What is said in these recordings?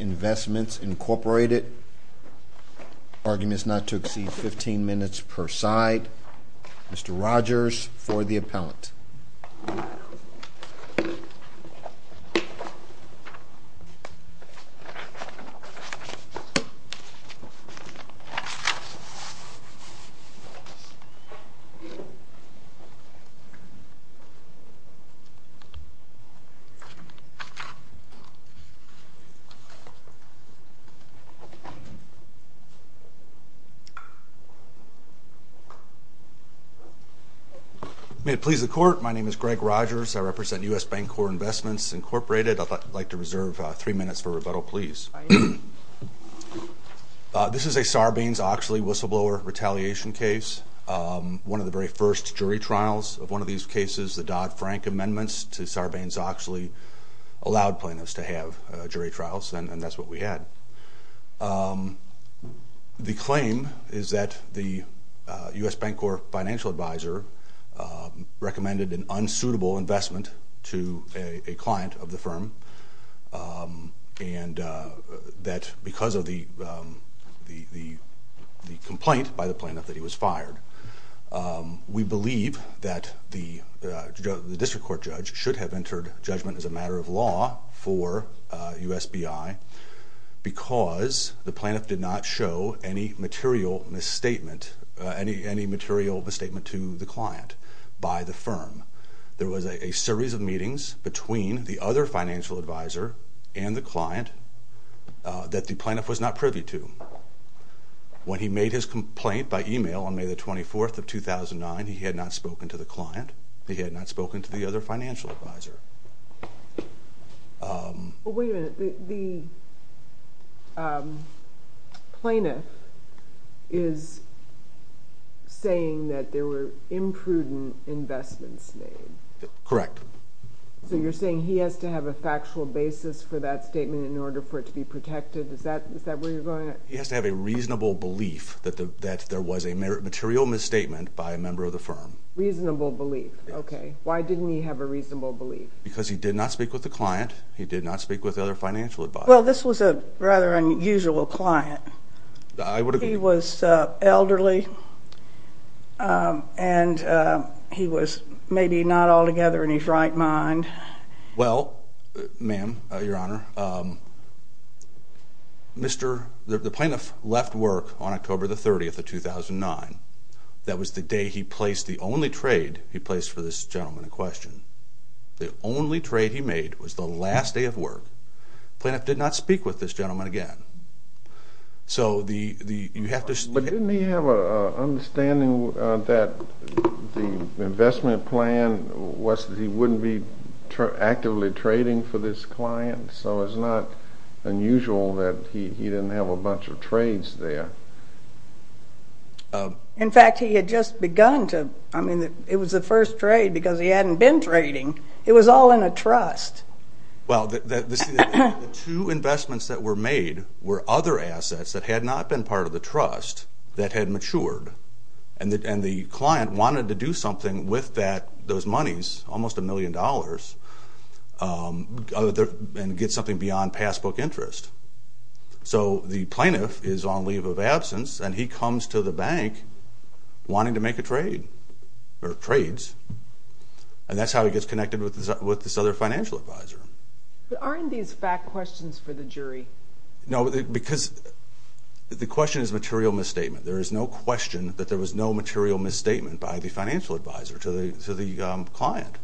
Investments, Inc. Arguments not to exceed 15 minutes per side. Mr. Rogers for the appellant. Mr. Rogers for the appellant. My name is Greg Rogers. I represent U.S. Bancorp Investments, Incorporated. I'd like to reserve three minutes for rebuttal, please. This is a Sarbanes-Oxley whistleblower retaliation case, one of the very first jury trials of one of these cases. The Dodd-Frank amendments to Sarbanes-Oxley allowed plaintiffs to have jury trials. The claim is that the U.S. Bancorp Financial Advisor recommended an unsuitable investment to a client of the firm, and that because of the complaint by the plaintiff that he was fired. We believe that the district court judge should have entered judgment as a matter of law for U.S. B.I. because the plaintiff did not show any material misstatement to the client by the firm. There was a series of meetings between the other financial advisor and the client that the plaintiff was not privy to. When he made his complaint by email on May the 24th of 2009, he had not spoken to the client. He had not spoken to the other financial advisor. Wait a minute. The plaintiff is saying that there were imprudent investments made. Correct. So you're saying he has to have a factual basis for that statement in order for it to be protected? He has to have a reasonable belief that there was a material misstatement by a member of the firm. Reasonable belief. Okay. Why didn't he have a reasonable belief? Because he did not speak with the client. He did not speak with the other financial advisor. Well, this was a rather unusual client. I would agree. He was elderly, and he was maybe not altogether in his right mind. Well, ma'am, your honor, the plaintiff left work on October the 30th of 2009. That was the day he placed the only trade he placed for this gentleman in question. The only trade he made was the last day of work. The plaintiff did not speak with this gentleman again. But didn't he have an understanding that the investment plan was that he wouldn't be actively trading for this client? So it's not unusual that he didn't have a bunch of trades there. In fact, he had just begun to. I mean, it was the first trade because he hadn't been trading. It was all in a trust. Well, the two investments that were made were other assets that had not been part of the trust that had matured. And the client wanted to do something with those monies, almost a million dollars, and get something beyond passbook interest. So the plaintiff is on leave of absence, and he comes to the bank wanting to make a trade or trades. And that's how he gets connected with this other financial advisor. But aren't these fact questions for the jury? No, because the question is material misstatement. There is no question that there was no material misstatement by the financial advisor to the client.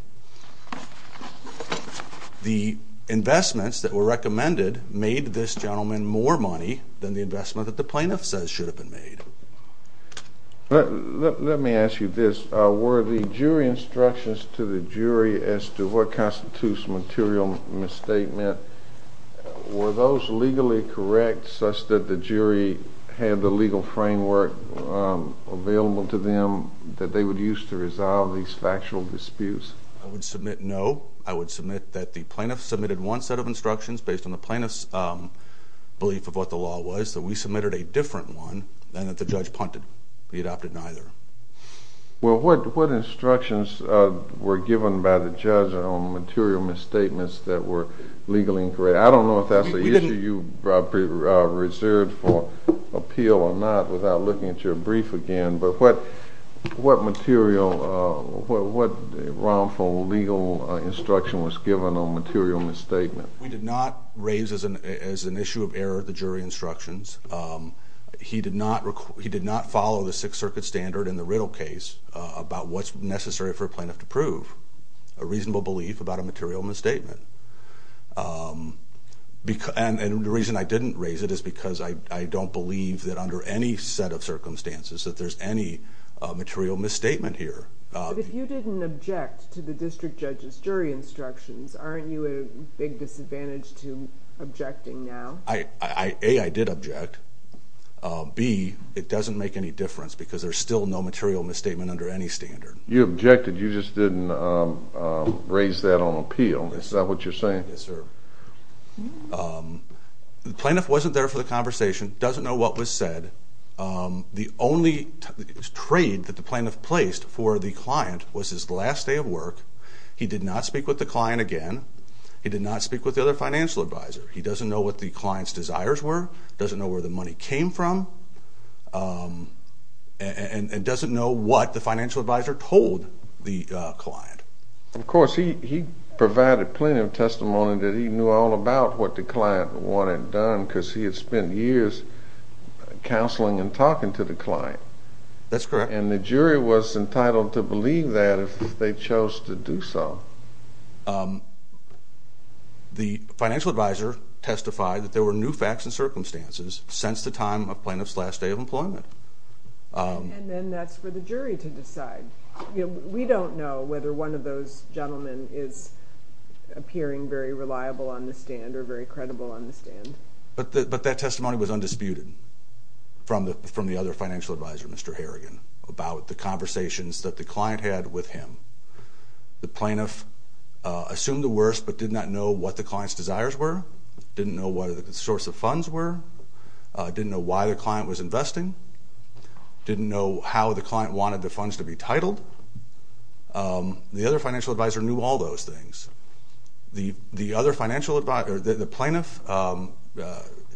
The investments that were recommended made this gentleman more money than the investment that the plaintiff says should have been made. Let me ask you this. Were the jury instructions to the jury as to what constitutes material misstatement, were those legally correct such that the jury had the legal framework available to them that they would use to resolve these factual disputes? I would submit no. I would submit that the plaintiff submitted one set of instructions based on the plaintiff's belief of what the law was. So we submitted a different one than that the judge punted. We adopted neither. Well, what instructions were given by the judge on material misstatements that were legally incorrect? I don't know if that's the issue you reserved for appeal or not without looking at your brief again, but what material, what round-fold legal instruction was given on material misstatement? We did not raise as an issue of error the jury instructions. He did not follow the Sixth Circuit standard in the Riddle case about what's necessary for a plaintiff to prove, a reasonable belief about a material misstatement. And the reason I didn't raise it is because I don't believe that under any set of circumstances that there's any material misstatement here. But if you didn't object to the district judge's jury instructions, aren't you at a big disadvantage to objecting now? A, I did object. B, it doesn't make any difference because there's still no material misstatement under any standard. You objected. You just didn't raise that on appeal. Is that what you're saying? Yes, sir. The plaintiff wasn't there for the conversation, doesn't know what was said. The only trade that the plaintiff placed for the client was his last day of work. He did not speak with the client again. He did not speak with the other financial advisor. He doesn't know what the client's desires were, doesn't know where the money came from, and doesn't know what the financial advisor told the client. Of course, he provided plenty of testimony that he knew all about what the client wanted done because he had spent years counseling and talking to the client. That's correct. And the jury was entitled to believe that if they chose to do so. The financial advisor testified that there were new facts and circumstances since the time of plaintiff's last day of employment. We don't know whether one of those gentlemen is appearing very reliable on the stand or very credible on the stand. But that testimony was undisputed from the other financial advisor, Mr. Harrigan, about the conversations that the client had with him. The plaintiff assumed the worst but did not know what the client's desires were, didn't know what the source of funds were, didn't know why the client was investing, didn't know how the client wanted the funds to be titled. The other financial advisor knew all those things. The other financial advisor, the plaintiff,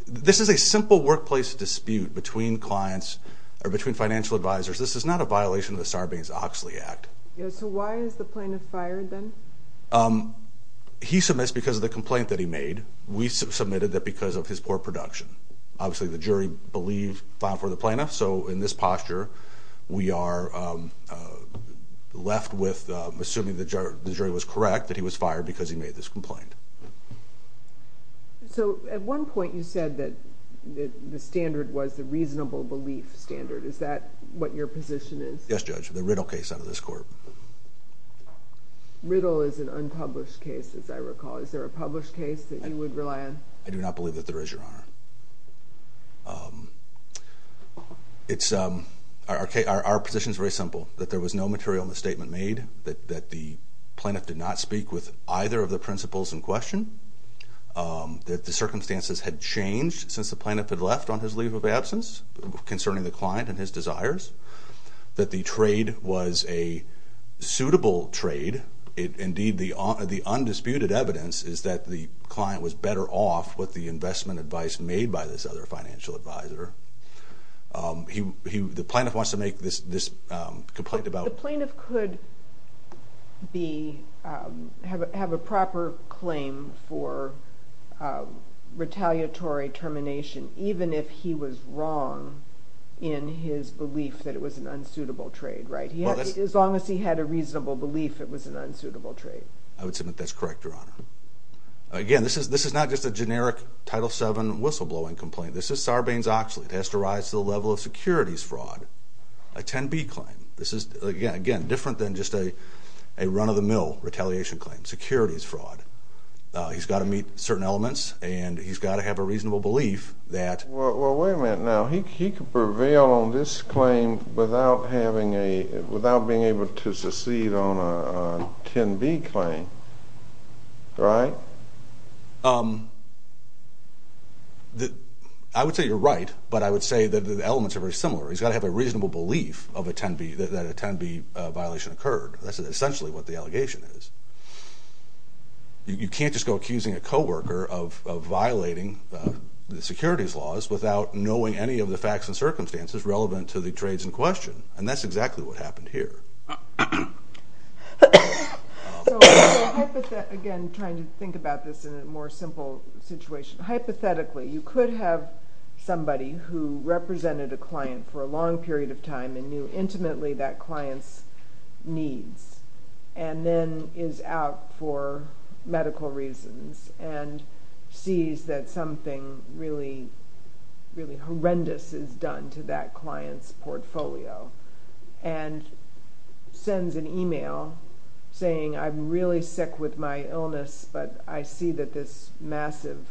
this is a simple workplace dispute between clients or between financial advisors. This is not a violation of the Sarbanes-Oxley Act. So why is the plaintiff fired then? He submits because of the complaint that he made. We submitted that because of his poor production. Obviously, the jury believed, filed for the plaintiff. So in this posture, we are left with assuming the jury was correct, that he was fired because he made this complaint. So at one point you said that the standard was the reasonable belief standard. Is that what your position is? Yes, Judge, the Riddle case out of this court. Riddle is an unpublished case, as I recall. Is there a published case that you would rely on? I do not believe that there is, Your Honor. Our position is very simple, that there was no material misstatement made, that the plaintiff did not speak with either of the principles in question, that the circumstances had changed since the plaintiff had left on his leave of absence concerning the client and his desires, that the trade was a suitable trade. Indeed, the undisputed evidence is that the client was better off with the investment advice made by this other financial advisor. The plaintiff wants to make this complaint about... The plaintiff could have a proper claim for retaliatory termination, even if he was wrong in his belief that it was an unsuitable trade, right? As long as he had a reasonable belief it was an unsuitable trade. I would submit that's correct, Your Honor. Again, this is not just a generic Title VII whistleblowing complaint. This is Sarbanes-Oxley. It has to rise to the level of securities fraud, a 10B claim. This is, again, different than just a run-of-the-mill retaliation claim, securities fraud. He's got to meet certain elements, and he's got to have a reasonable belief that... without being able to secede on a 10B claim, right? I would say you're right, but I would say that the elements are very similar. He's got to have a reasonable belief that a 10B violation occurred. That's essentially what the allegation is. You can't just go accusing a coworker of violating the securities laws without knowing any of the facts and circumstances relevant to the trades in question, and that's exactly what happened here. Again, trying to think about this in a more simple situation. Hypothetically, you could have somebody who represented a client for a long period of time and knew intimately that client's needs and then is out for medical reasons and sees that something really horrendous is done to that client's portfolio and sends an email saying, I'm really sick with my illness, but I see that this massive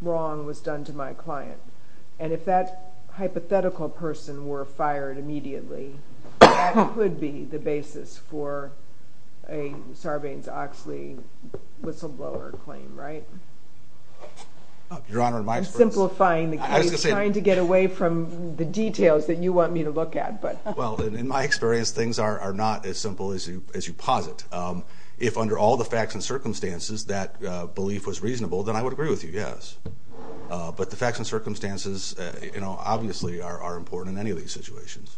wrong was done to my client. And if that hypothetical person were fired immediately, that could be the basis for Sarbanes-Oxley whistleblower claim, right? Your Honor, my experience... I'm simplifying the case, trying to get away from the details that you want me to look at. Well, in my experience, things are not as simple as you posit. If under all the facts and circumstances that belief was reasonable, then I would agree with you, yes. But the facts and circumstances obviously are important in any of these situations.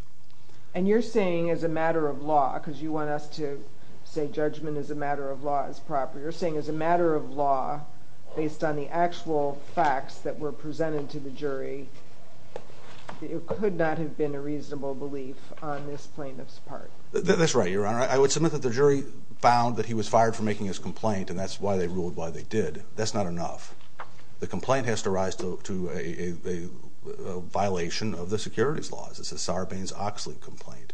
And you're saying as a matter of law, because you want us to say judgment as a matter of law is proper, you're saying as a matter of law, based on the actual facts that were presented to the jury, it could not have been a reasonable belief on this plaintiff's part. That's right, Your Honor. I would submit that the jury found that he was fired for making his complaint, and that's why they ruled why they did. That's not enough. The complaint has to rise to a violation of the securities laws. It's a Sarbanes-Oxley complaint.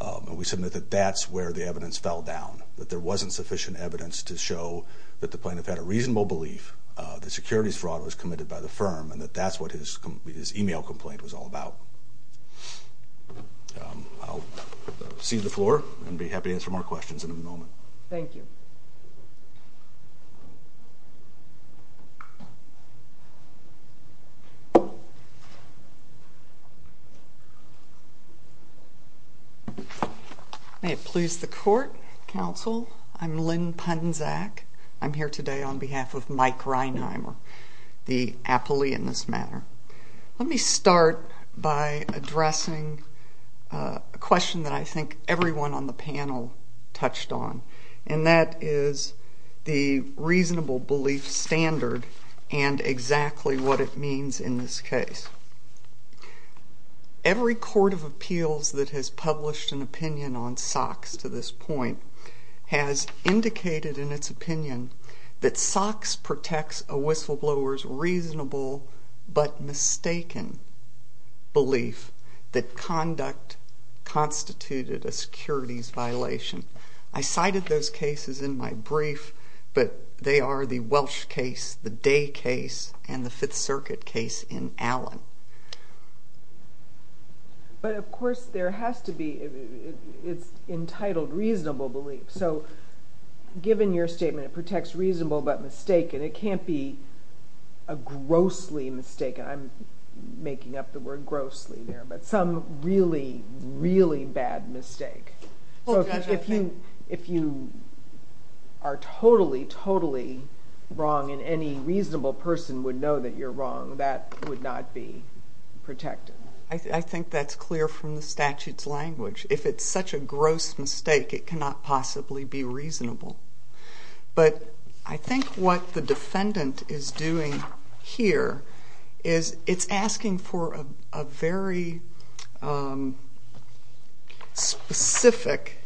And we submit that that's where the evidence fell down, that there wasn't sufficient evidence to show that the plaintiff had a reasonable belief that securities fraud was committed by the firm and that that's what his email complaint was all about. I'll cede the floor and be happy to answer more questions in a moment. Thank you. May it please the Court, Counsel, I'm Lynn Punzack. I'm here today on behalf of Mike Reinheimer, the appellee in this matter. Let me start by addressing a question that I think everyone on the panel touched on, and that is the reasonable belief standard and exactly what it means in this case. Every court of appeals that has published an opinion on SOX to this point has indicated in its opinion that SOX protects a whistleblower's reasonable but mistaken belief that conduct constituted a securities violation. I cited those cases in my brief, but they are the Welsh case, the Day case, and the Fifth Circuit case in Allen. But, of course, there has to be, it's entitled reasonable belief. So, given your statement, it protects reasonable but mistaken. It can't be a grossly mistaken. I'm making up the word grossly there, but some really, really bad mistake. If you are totally, totally wrong and any reasonable person would know that you're wrong, that would not be protected. I think that's clear from the statute's language. If it's such a gross mistake, it cannot possibly be reasonable. But I think what the defendant is doing here is it's asking for a very specific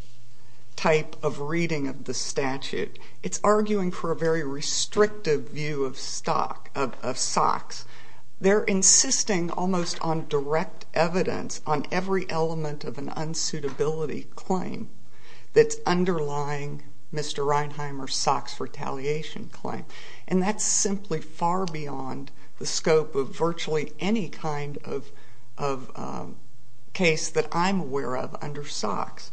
type of reading of the statute. It's arguing for a very restrictive view of SOX. They're insisting almost on direct evidence on every element of an unsuitability claim that's underlying Mr. Reinheimer's SOX retaliation claim. And that's simply far beyond the scope of virtually any kind of case that I'm aware of under SOX.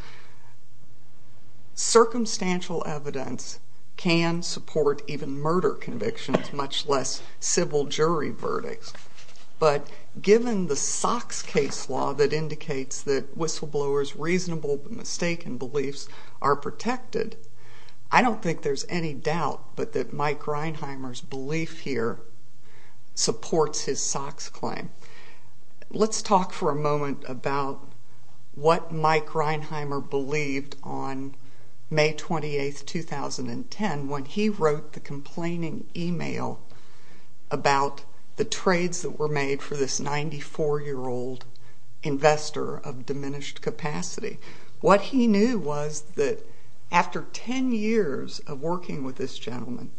Circumstantial evidence can support even murder convictions, much less civil jury verdicts. But given the SOX case law that indicates that whistleblowers' reasonable but mistaken beliefs are protected, I don't think there's any doubt but that Mike Reinheimer's belief here supports his SOX claim. Let's talk for a moment about what Mike Reinheimer believed on May 28, 2010, when he wrote the complaining email about the trades that were made for this 94-year-old investor of diminished capacity. What he knew was that after 10 years of working with this gentleman,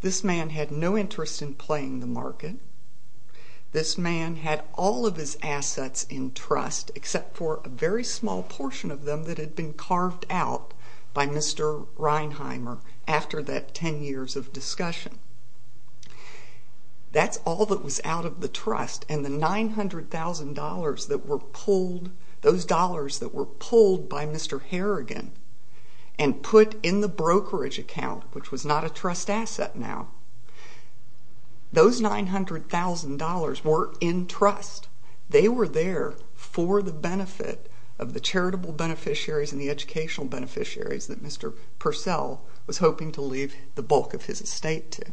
this man had no interest in playing the market. This man had all of his assets in trust except for a very small portion of them that had been carved out by Mr. Reinheimer after that 10 years of discussion. That's all that was out of the trust, and the $900,000 that were pulled, those dollars that were pulled by Mr. Harrigan and put in the brokerage account, which was not a trust asset now, those $900,000 were in trust. They were there for the benefit of the charitable beneficiaries and the educational beneficiaries that Mr. Purcell was hoping to leave the bulk of his estate to.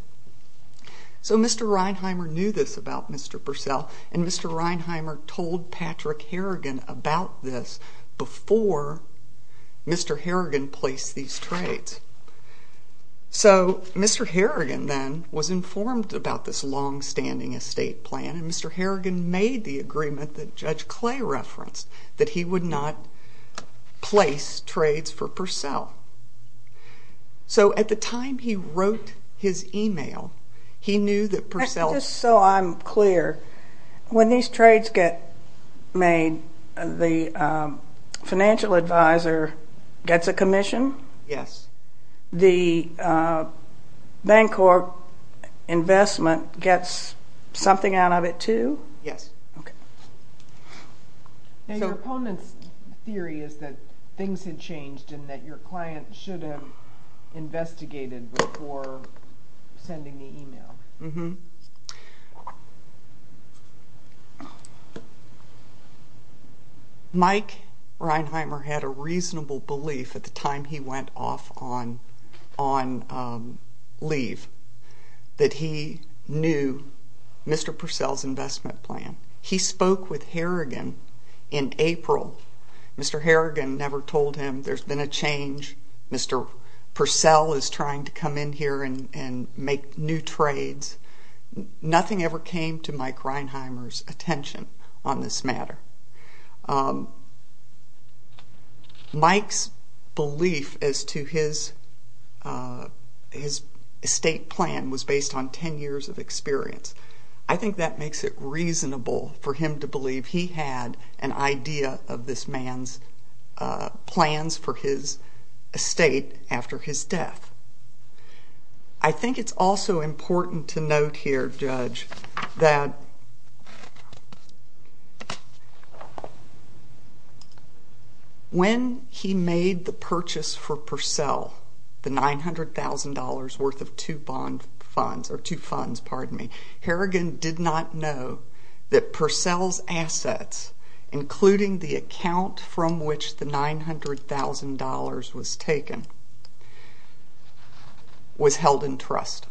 So Mr. Reinheimer knew this about Mr. Purcell, and Mr. Reinheimer told Patrick Harrigan about this before Mr. Harrigan placed these trades. So Mr. Harrigan then was informed about this longstanding estate plan, and Mr. Harrigan made the agreement that Judge Clay referenced that he would not place trades for Purcell. So at the time he wrote his email, he knew that Purcell... Just so I'm clear, when these trades get made, the financial advisor gets a commission? Yes. The bank or investment gets something out of it too? Yes. Okay. Now your opponent's theory is that things had changed and that your client should have investigated before sending the email. Mm-hmm. Mike Reinheimer had a reasonable belief at the time he went off on leave that he knew Mr. Purcell's investment plan. He spoke with Harrigan in April. Mr. Harrigan never told him there's been a change. Mr. Purcell is trying to come in here and make new trades. Nothing ever came to Mike Reinheimer's attention on this matter. Mike's belief as to his estate plan was based on 10 years of experience. I think that makes it reasonable for him to believe he had an idea of this man's plans for his estate after his death. I think it's also important to note here, Judge, that when he made the purchase for Purcell, the $900,000 worth of two funds, Harrigan did not know that Purcell's assets, including the account from which the $900,000 was taken, was held in trust.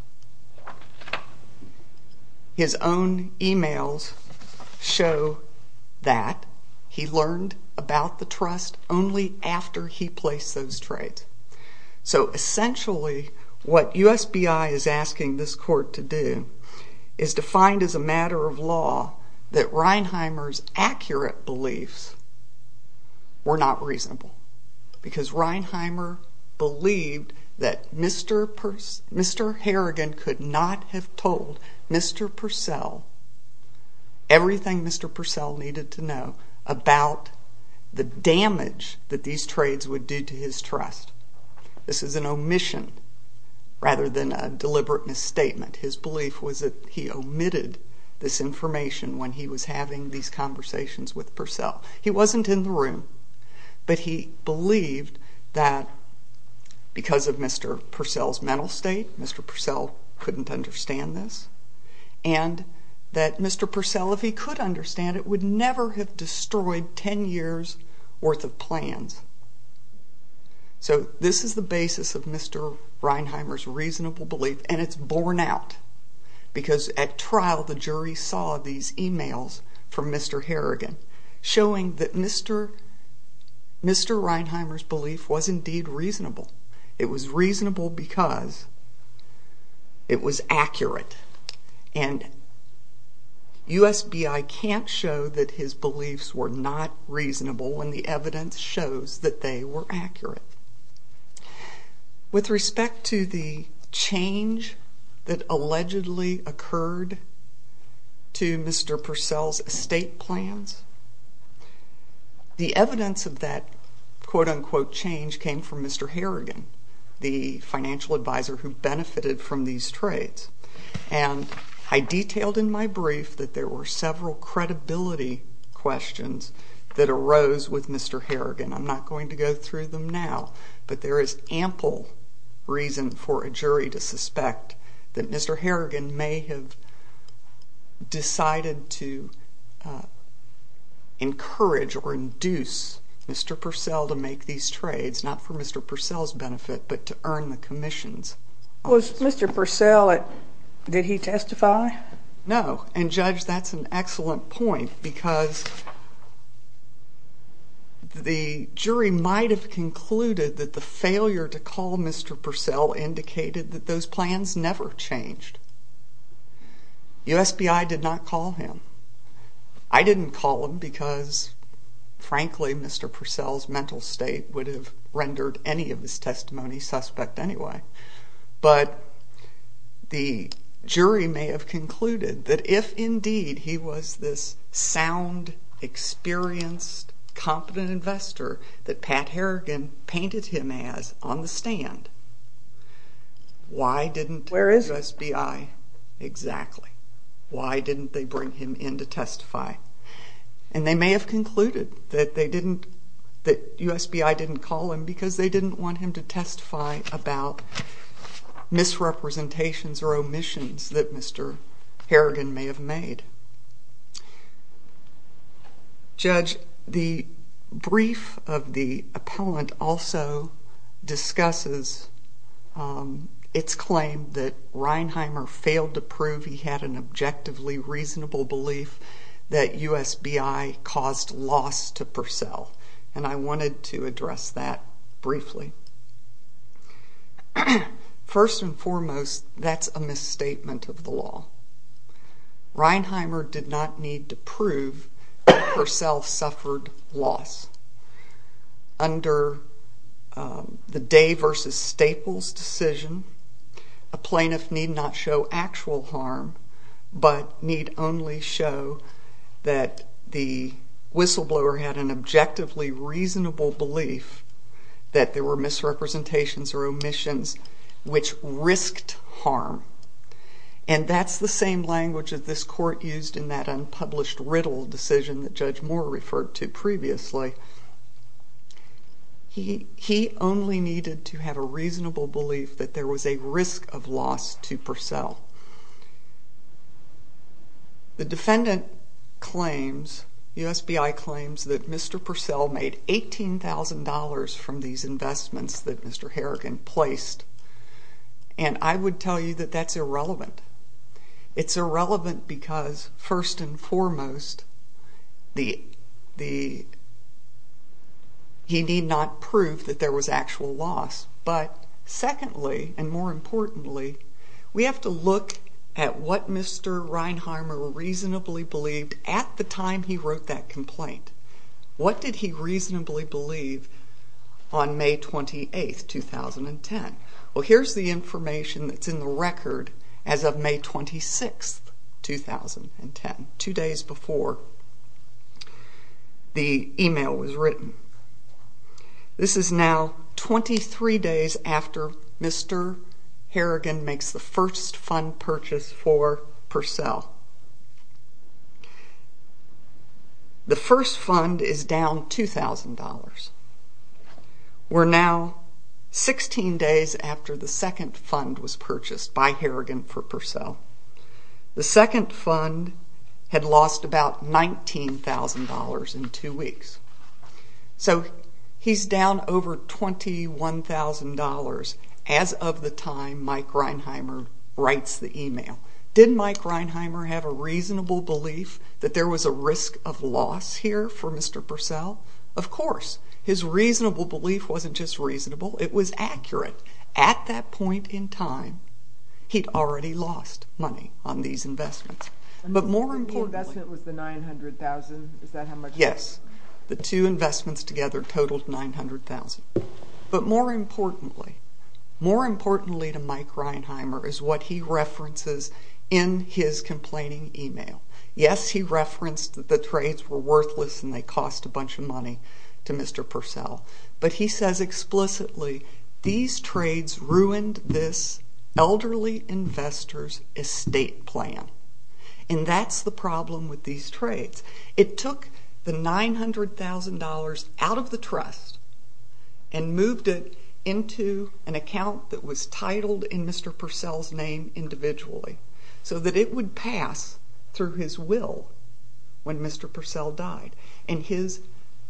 His own emails show that he learned about the trust only after he placed those trades. So essentially what USBI is asking this court to do is to find as a matter of law that Reinheimer's accurate beliefs were not reasonable because Reinheimer believed that Mr. Harrigan could not have told Mr. Purcell everything Mr. Purcell needed to know about the damage that these trades would do to his trust. This is an omission rather than a deliberate misstatement. His belief was that he omitted this information when he was having these conversations with Purcell. He wasn't in the room, but he believed that because of Mr. Purcell's mental state, Mr. Purcell couldn't understand this, and that Mr. Purcell, if he could understand it, would never have destroyed 10 years' worth of plans. So this is the basis of Mr. Reinheimer's reasonable belief, and it's borne out because at trial the jury saw these emails from Mr. Harrigan showing that Mr. Reinheimer's belief was indeed reasonable. It was reasonable because it was accurate, and USBI can't show that his beliefs were not reasonable when the evidence shows that they were accurate. With respect to the change that allegedly occurred to Mr. Purcell's estate plans, the evidence of that quote-unquote change came from Mr. Harrigan, the financial advisor who benefited from these trades, and I detailed in my brief that there were several credibility questions that arose with Mr. Harrigan. I'm not going to go through them now, but there is ample reason for a jury to suspect that Mr. Harrigan may have decided to encourage or induce Mr. Purcell to make these trades, not for Mr. Purcell's benefit, but to earn the commissions. Was Mr. Purcell, did he testify? No, and Judge, that's an excellent point because the jury might have concluded that the failure to call Mr. Purcell indicated that those plans never changed. USBI did not call him. I didn't call him because, frankly, Mr. Purcell's mental state would have rendered any of his testimony suspect anyway, but the jury may have concluded that if indeed he was this sound, experienced, competent investor that Pat Harrigan painted him as on the stand, why didn't USBI? Where is he? And they may have concluded that they didn't, that USBI didn't call him because they didn't want him to testify about misrepresentations or omissions that Mr. Harrigan may have made. Judge, the brief of the appellant also discusses its claim that Reinheimer failed to prove he had an objectively reasonable belief that USBI caused loss to Purcell, and I wanted to address that briefly. First and foremost, that's a misstatement of the law. Reinheimer did not need to prove that Purcell suffered loss. Under the Day v. Staples decision, a plaintiff need not show actual harm, but need only show that the whistleblower had an objectively reasonable belief that there were misrepresentations or omissions which risked harm, and that's the same language that this court used in that unpublished riddle decision that Judge Moore referred to previously. He only needed to have a reasonable belief that there was a risk of loss to Purcell. The defendant claims, USBI claims, that Mr. Purcell made $18,000 from these investments that Mr. Harrigan placed, and I would tell you that that's irrelevant. It's irrelevant because, first and foremost, he need not prove that there was actual loss, but secondly, and more importantly, we have to look at what Mr. Reinheimer reasonably believed at the time he wrote that complaint. What did he reasonably believe on May 28, 2010? Well, here's the information that's in the record as of May 26, 2010, two days before the email was written. This is now 23 days after Mr. Harrigan makes the first fund purchase for Purcell. The first fund is down $2,000. We're now 16 days after the second fund was purchased by Harrigan for Purcell. The second fund had lost about $19,000 in two weeks. So he's down over $21,000 as of the time Mike Reinheimer writes the email. Did Mike Reinheimer have a reasonable belief that there was a risk of loss here for Mr. Purcell? Of course. His reasonable belief wasn't just reasonable, it was accurate. At that point in time, he'd already lost money on these investments. But more importantly— The investment was the $900,000. Is that how much— Yes. The two investments together totaled $900,000. But more importantly, more importantly to Mike Reinheimer is what he references in his complaining email. Yes, he referenced that the trades were worthless and they cost a bunch of money to Mr. Purcell. But he says explicitly, these trades ruined this elderly investor's estate plan. And that's the problem with these trades. It took the $900,000 out of the trust and moved it into an account that was titled in Mr. Purcell's name individually so that it would pass through his will when Mr. Purcell died. And his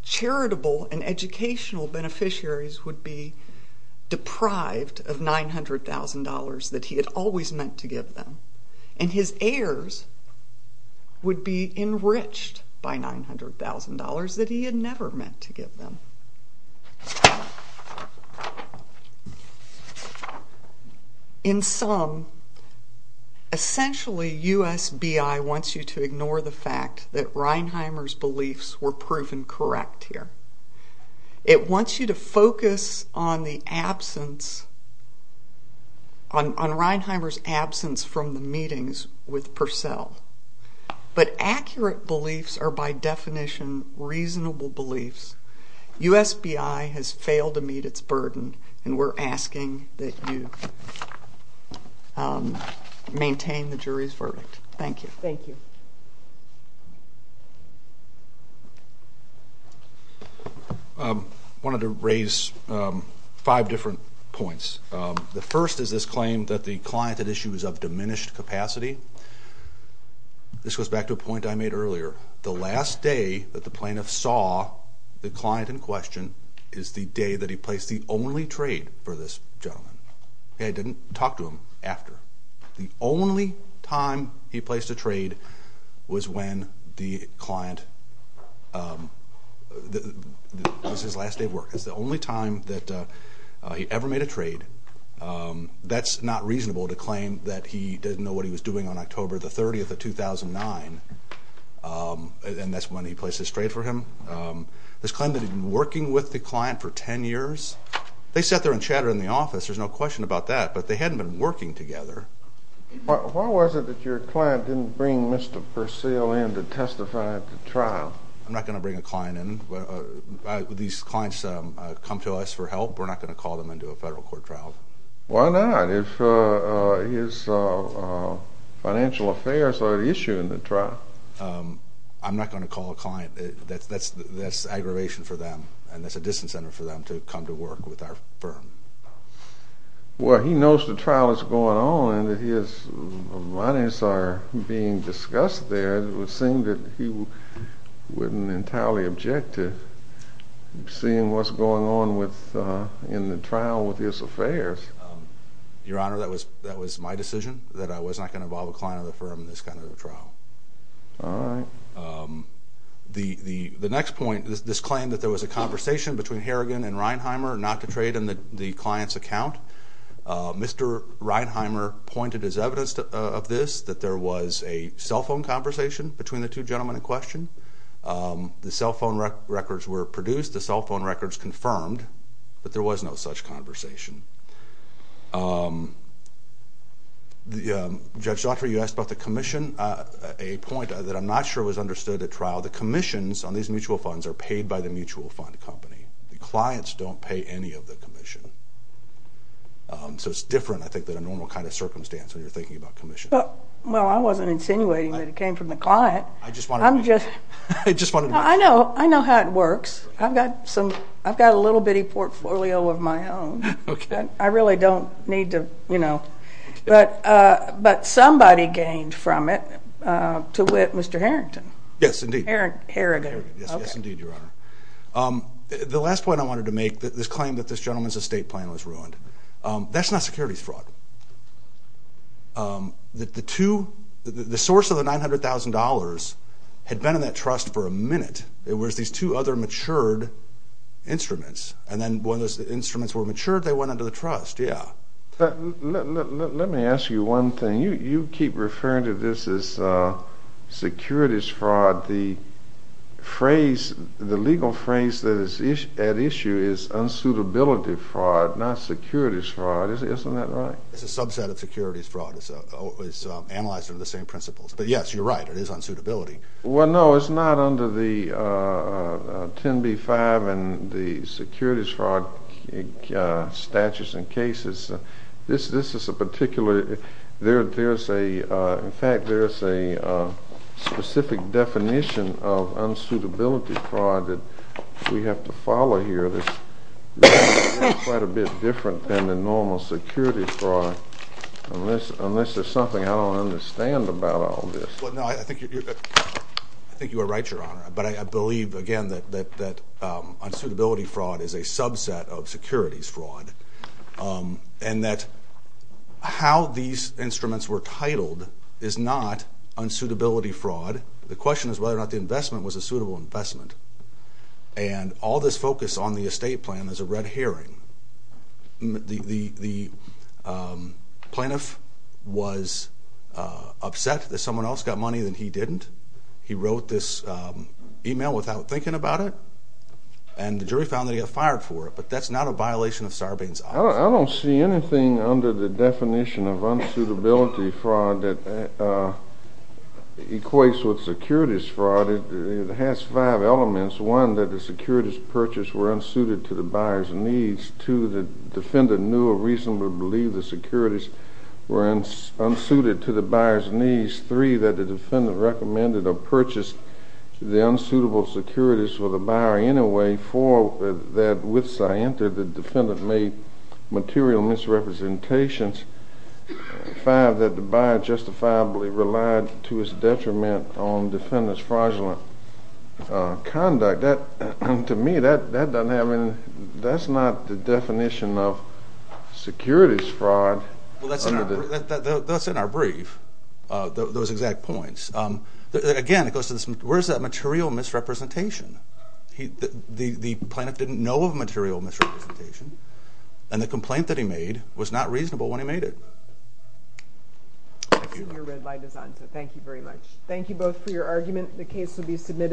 charitable and educational beneficiaries would be deprived of $900,000 that he had always meant to give them. And his heirs would be enriched by $900,000 that he had never meant to give them. In sum, essentially USBI wants you to ignore the fact that Reinheimer's beliefs were proven correct here. It wants you to focus on the absence, on Reinheimer's absence from the meetings with Purcell. But accurate beliefs are by definition reasonable beliefs. USBI has failed to meet its burden, and we're asking that you maintain the jury's verdict. Thank you. Thank you. I wanted to raise five different points. The first is this claim that the client at issue is of diminished capacity. This goes back to a point I made earlier. The last day that the plaintiff saw the client in question is the day that he placed the only trade for this gentleman. He didn't talk to him after. The only time he placed a trade was when the client was his last day of work. It's the only time that he ever made a trade. That's not reasonable to claim that he didn't know what he was doing on October the 30th of 2009, and that's when he placed his trade for him. This claim that he'd been working with the client for 10 years, they sat there and chatted in the office. There's no question about that, but they hadn't been working together. Why was it that your client didn't bring Mr. Purcell in to testify at the trial? I'm not going to bring a client in. Would these clients come to us for help? We're not going to call them into a federal court trial. Why not if his financial affairs are at issue in the trial? I'm not going to call a client. That's aggravation for them, and that's a disincentive for them to come to work with our firm. Well, he knows the trial is going on and that his monies are being discussed there. It would seem that he wouldn't entirely object to seeing what's going on in the trial with his affairs. Your Honor, that was my decision, that I was not going to involve a client or the firm in this kind of a trial. All right. The next point, this claim that there was a conversation between Harrigan and Reinheimer not to trade in the client's account. Mr. Reinheimer pointed as evidence of this that there was a cell phone conversation between the two gentlemen in question. The cell phone records were produced. The cell phone records confirmed that there was no such conversation. Judge Daughtry, you asked about the commission, a point that I'm not sure was understood at trial. The commissions on these mutual funds are paid by the mutual fund company. The clients don't pay any of the commission. So it's different, I think, than a normal kind of circumstance when you're thinking about commission. Well, I wasn't insinuating that it came from the client. I just wanted to make sure. I know how it works. I've got a little bitty portfolio of my own. I really don't need to, you know. But somebody gained from it to wit Mr. Harrington. Yes, indeed. Harrigan. Yes, indeed, Your Honor. The last point I wanted to make, this claim that this gentleman's estate plan was ruined, that's not securities fraud. The source of the $900,000 had been in that trust for a minute. It was these two other matured instruments. And then when those instruments were matured, they went under the trust, yeah. Let me ask you one thing. You keep referring to this as securities fraud. The legal phrase that is at issue is unsuitability fraud, not securities fraud. Isn't that right? It's a subset of securities fraud. It's analyzed under the same principles. But, yes, you're right. It is unsuitability. Well, no, it's not under the 10b-5 and the securities fraud statutes and cases. This is a particular – there's a – in fact, there's a specific definition of unsuitability fraud that we have to follow here that's quite a bit different than the normal securities fraud, unless there's something I don't understand about all this. Well, no, I think you're right, Your Honor. But I believe, again, that unsuitability fraud is a subset of securities fraud. And that how these instruments were titled is not unsuitability fraud. The question is whether or not the investment was a suitable investment. And all this focus on the estate plan is a red herring. The plaintiff was upset that someone else got money that he didn't. He wrote this email without thinking about it. And the jury found that he got fired for it. But that's not a violation of Sarbane's office. I don't see anything under the definition of unsuitability fraud that equates with securities fraud. It has five elements. One, that the securities purchased were unsuited to the buyer's needs. Two, the defendant knew or reasonably believed the securities were unsuited to the buyer's needs. Three, that the defendant recommended or purchased the unsuitable securities for the buyer anyway. Four, that with Sienta, the defendant made material misrepresentations. Five, that the buyer justifiably relied to his detriment on the defendant's fraudulent conduct. To me, that doesn't have any ñ that's not the definition of securities fraud. Well, that's in our brief, those exact points. Again, it goes to this, where's that material misrepresentation? The plaintiff didn't know of a material misrepresentation. And the complaint that he made was not reasonable when he made it. I see your red light is on, so thank you very much. Thank you both for your argument. The case will be submitted.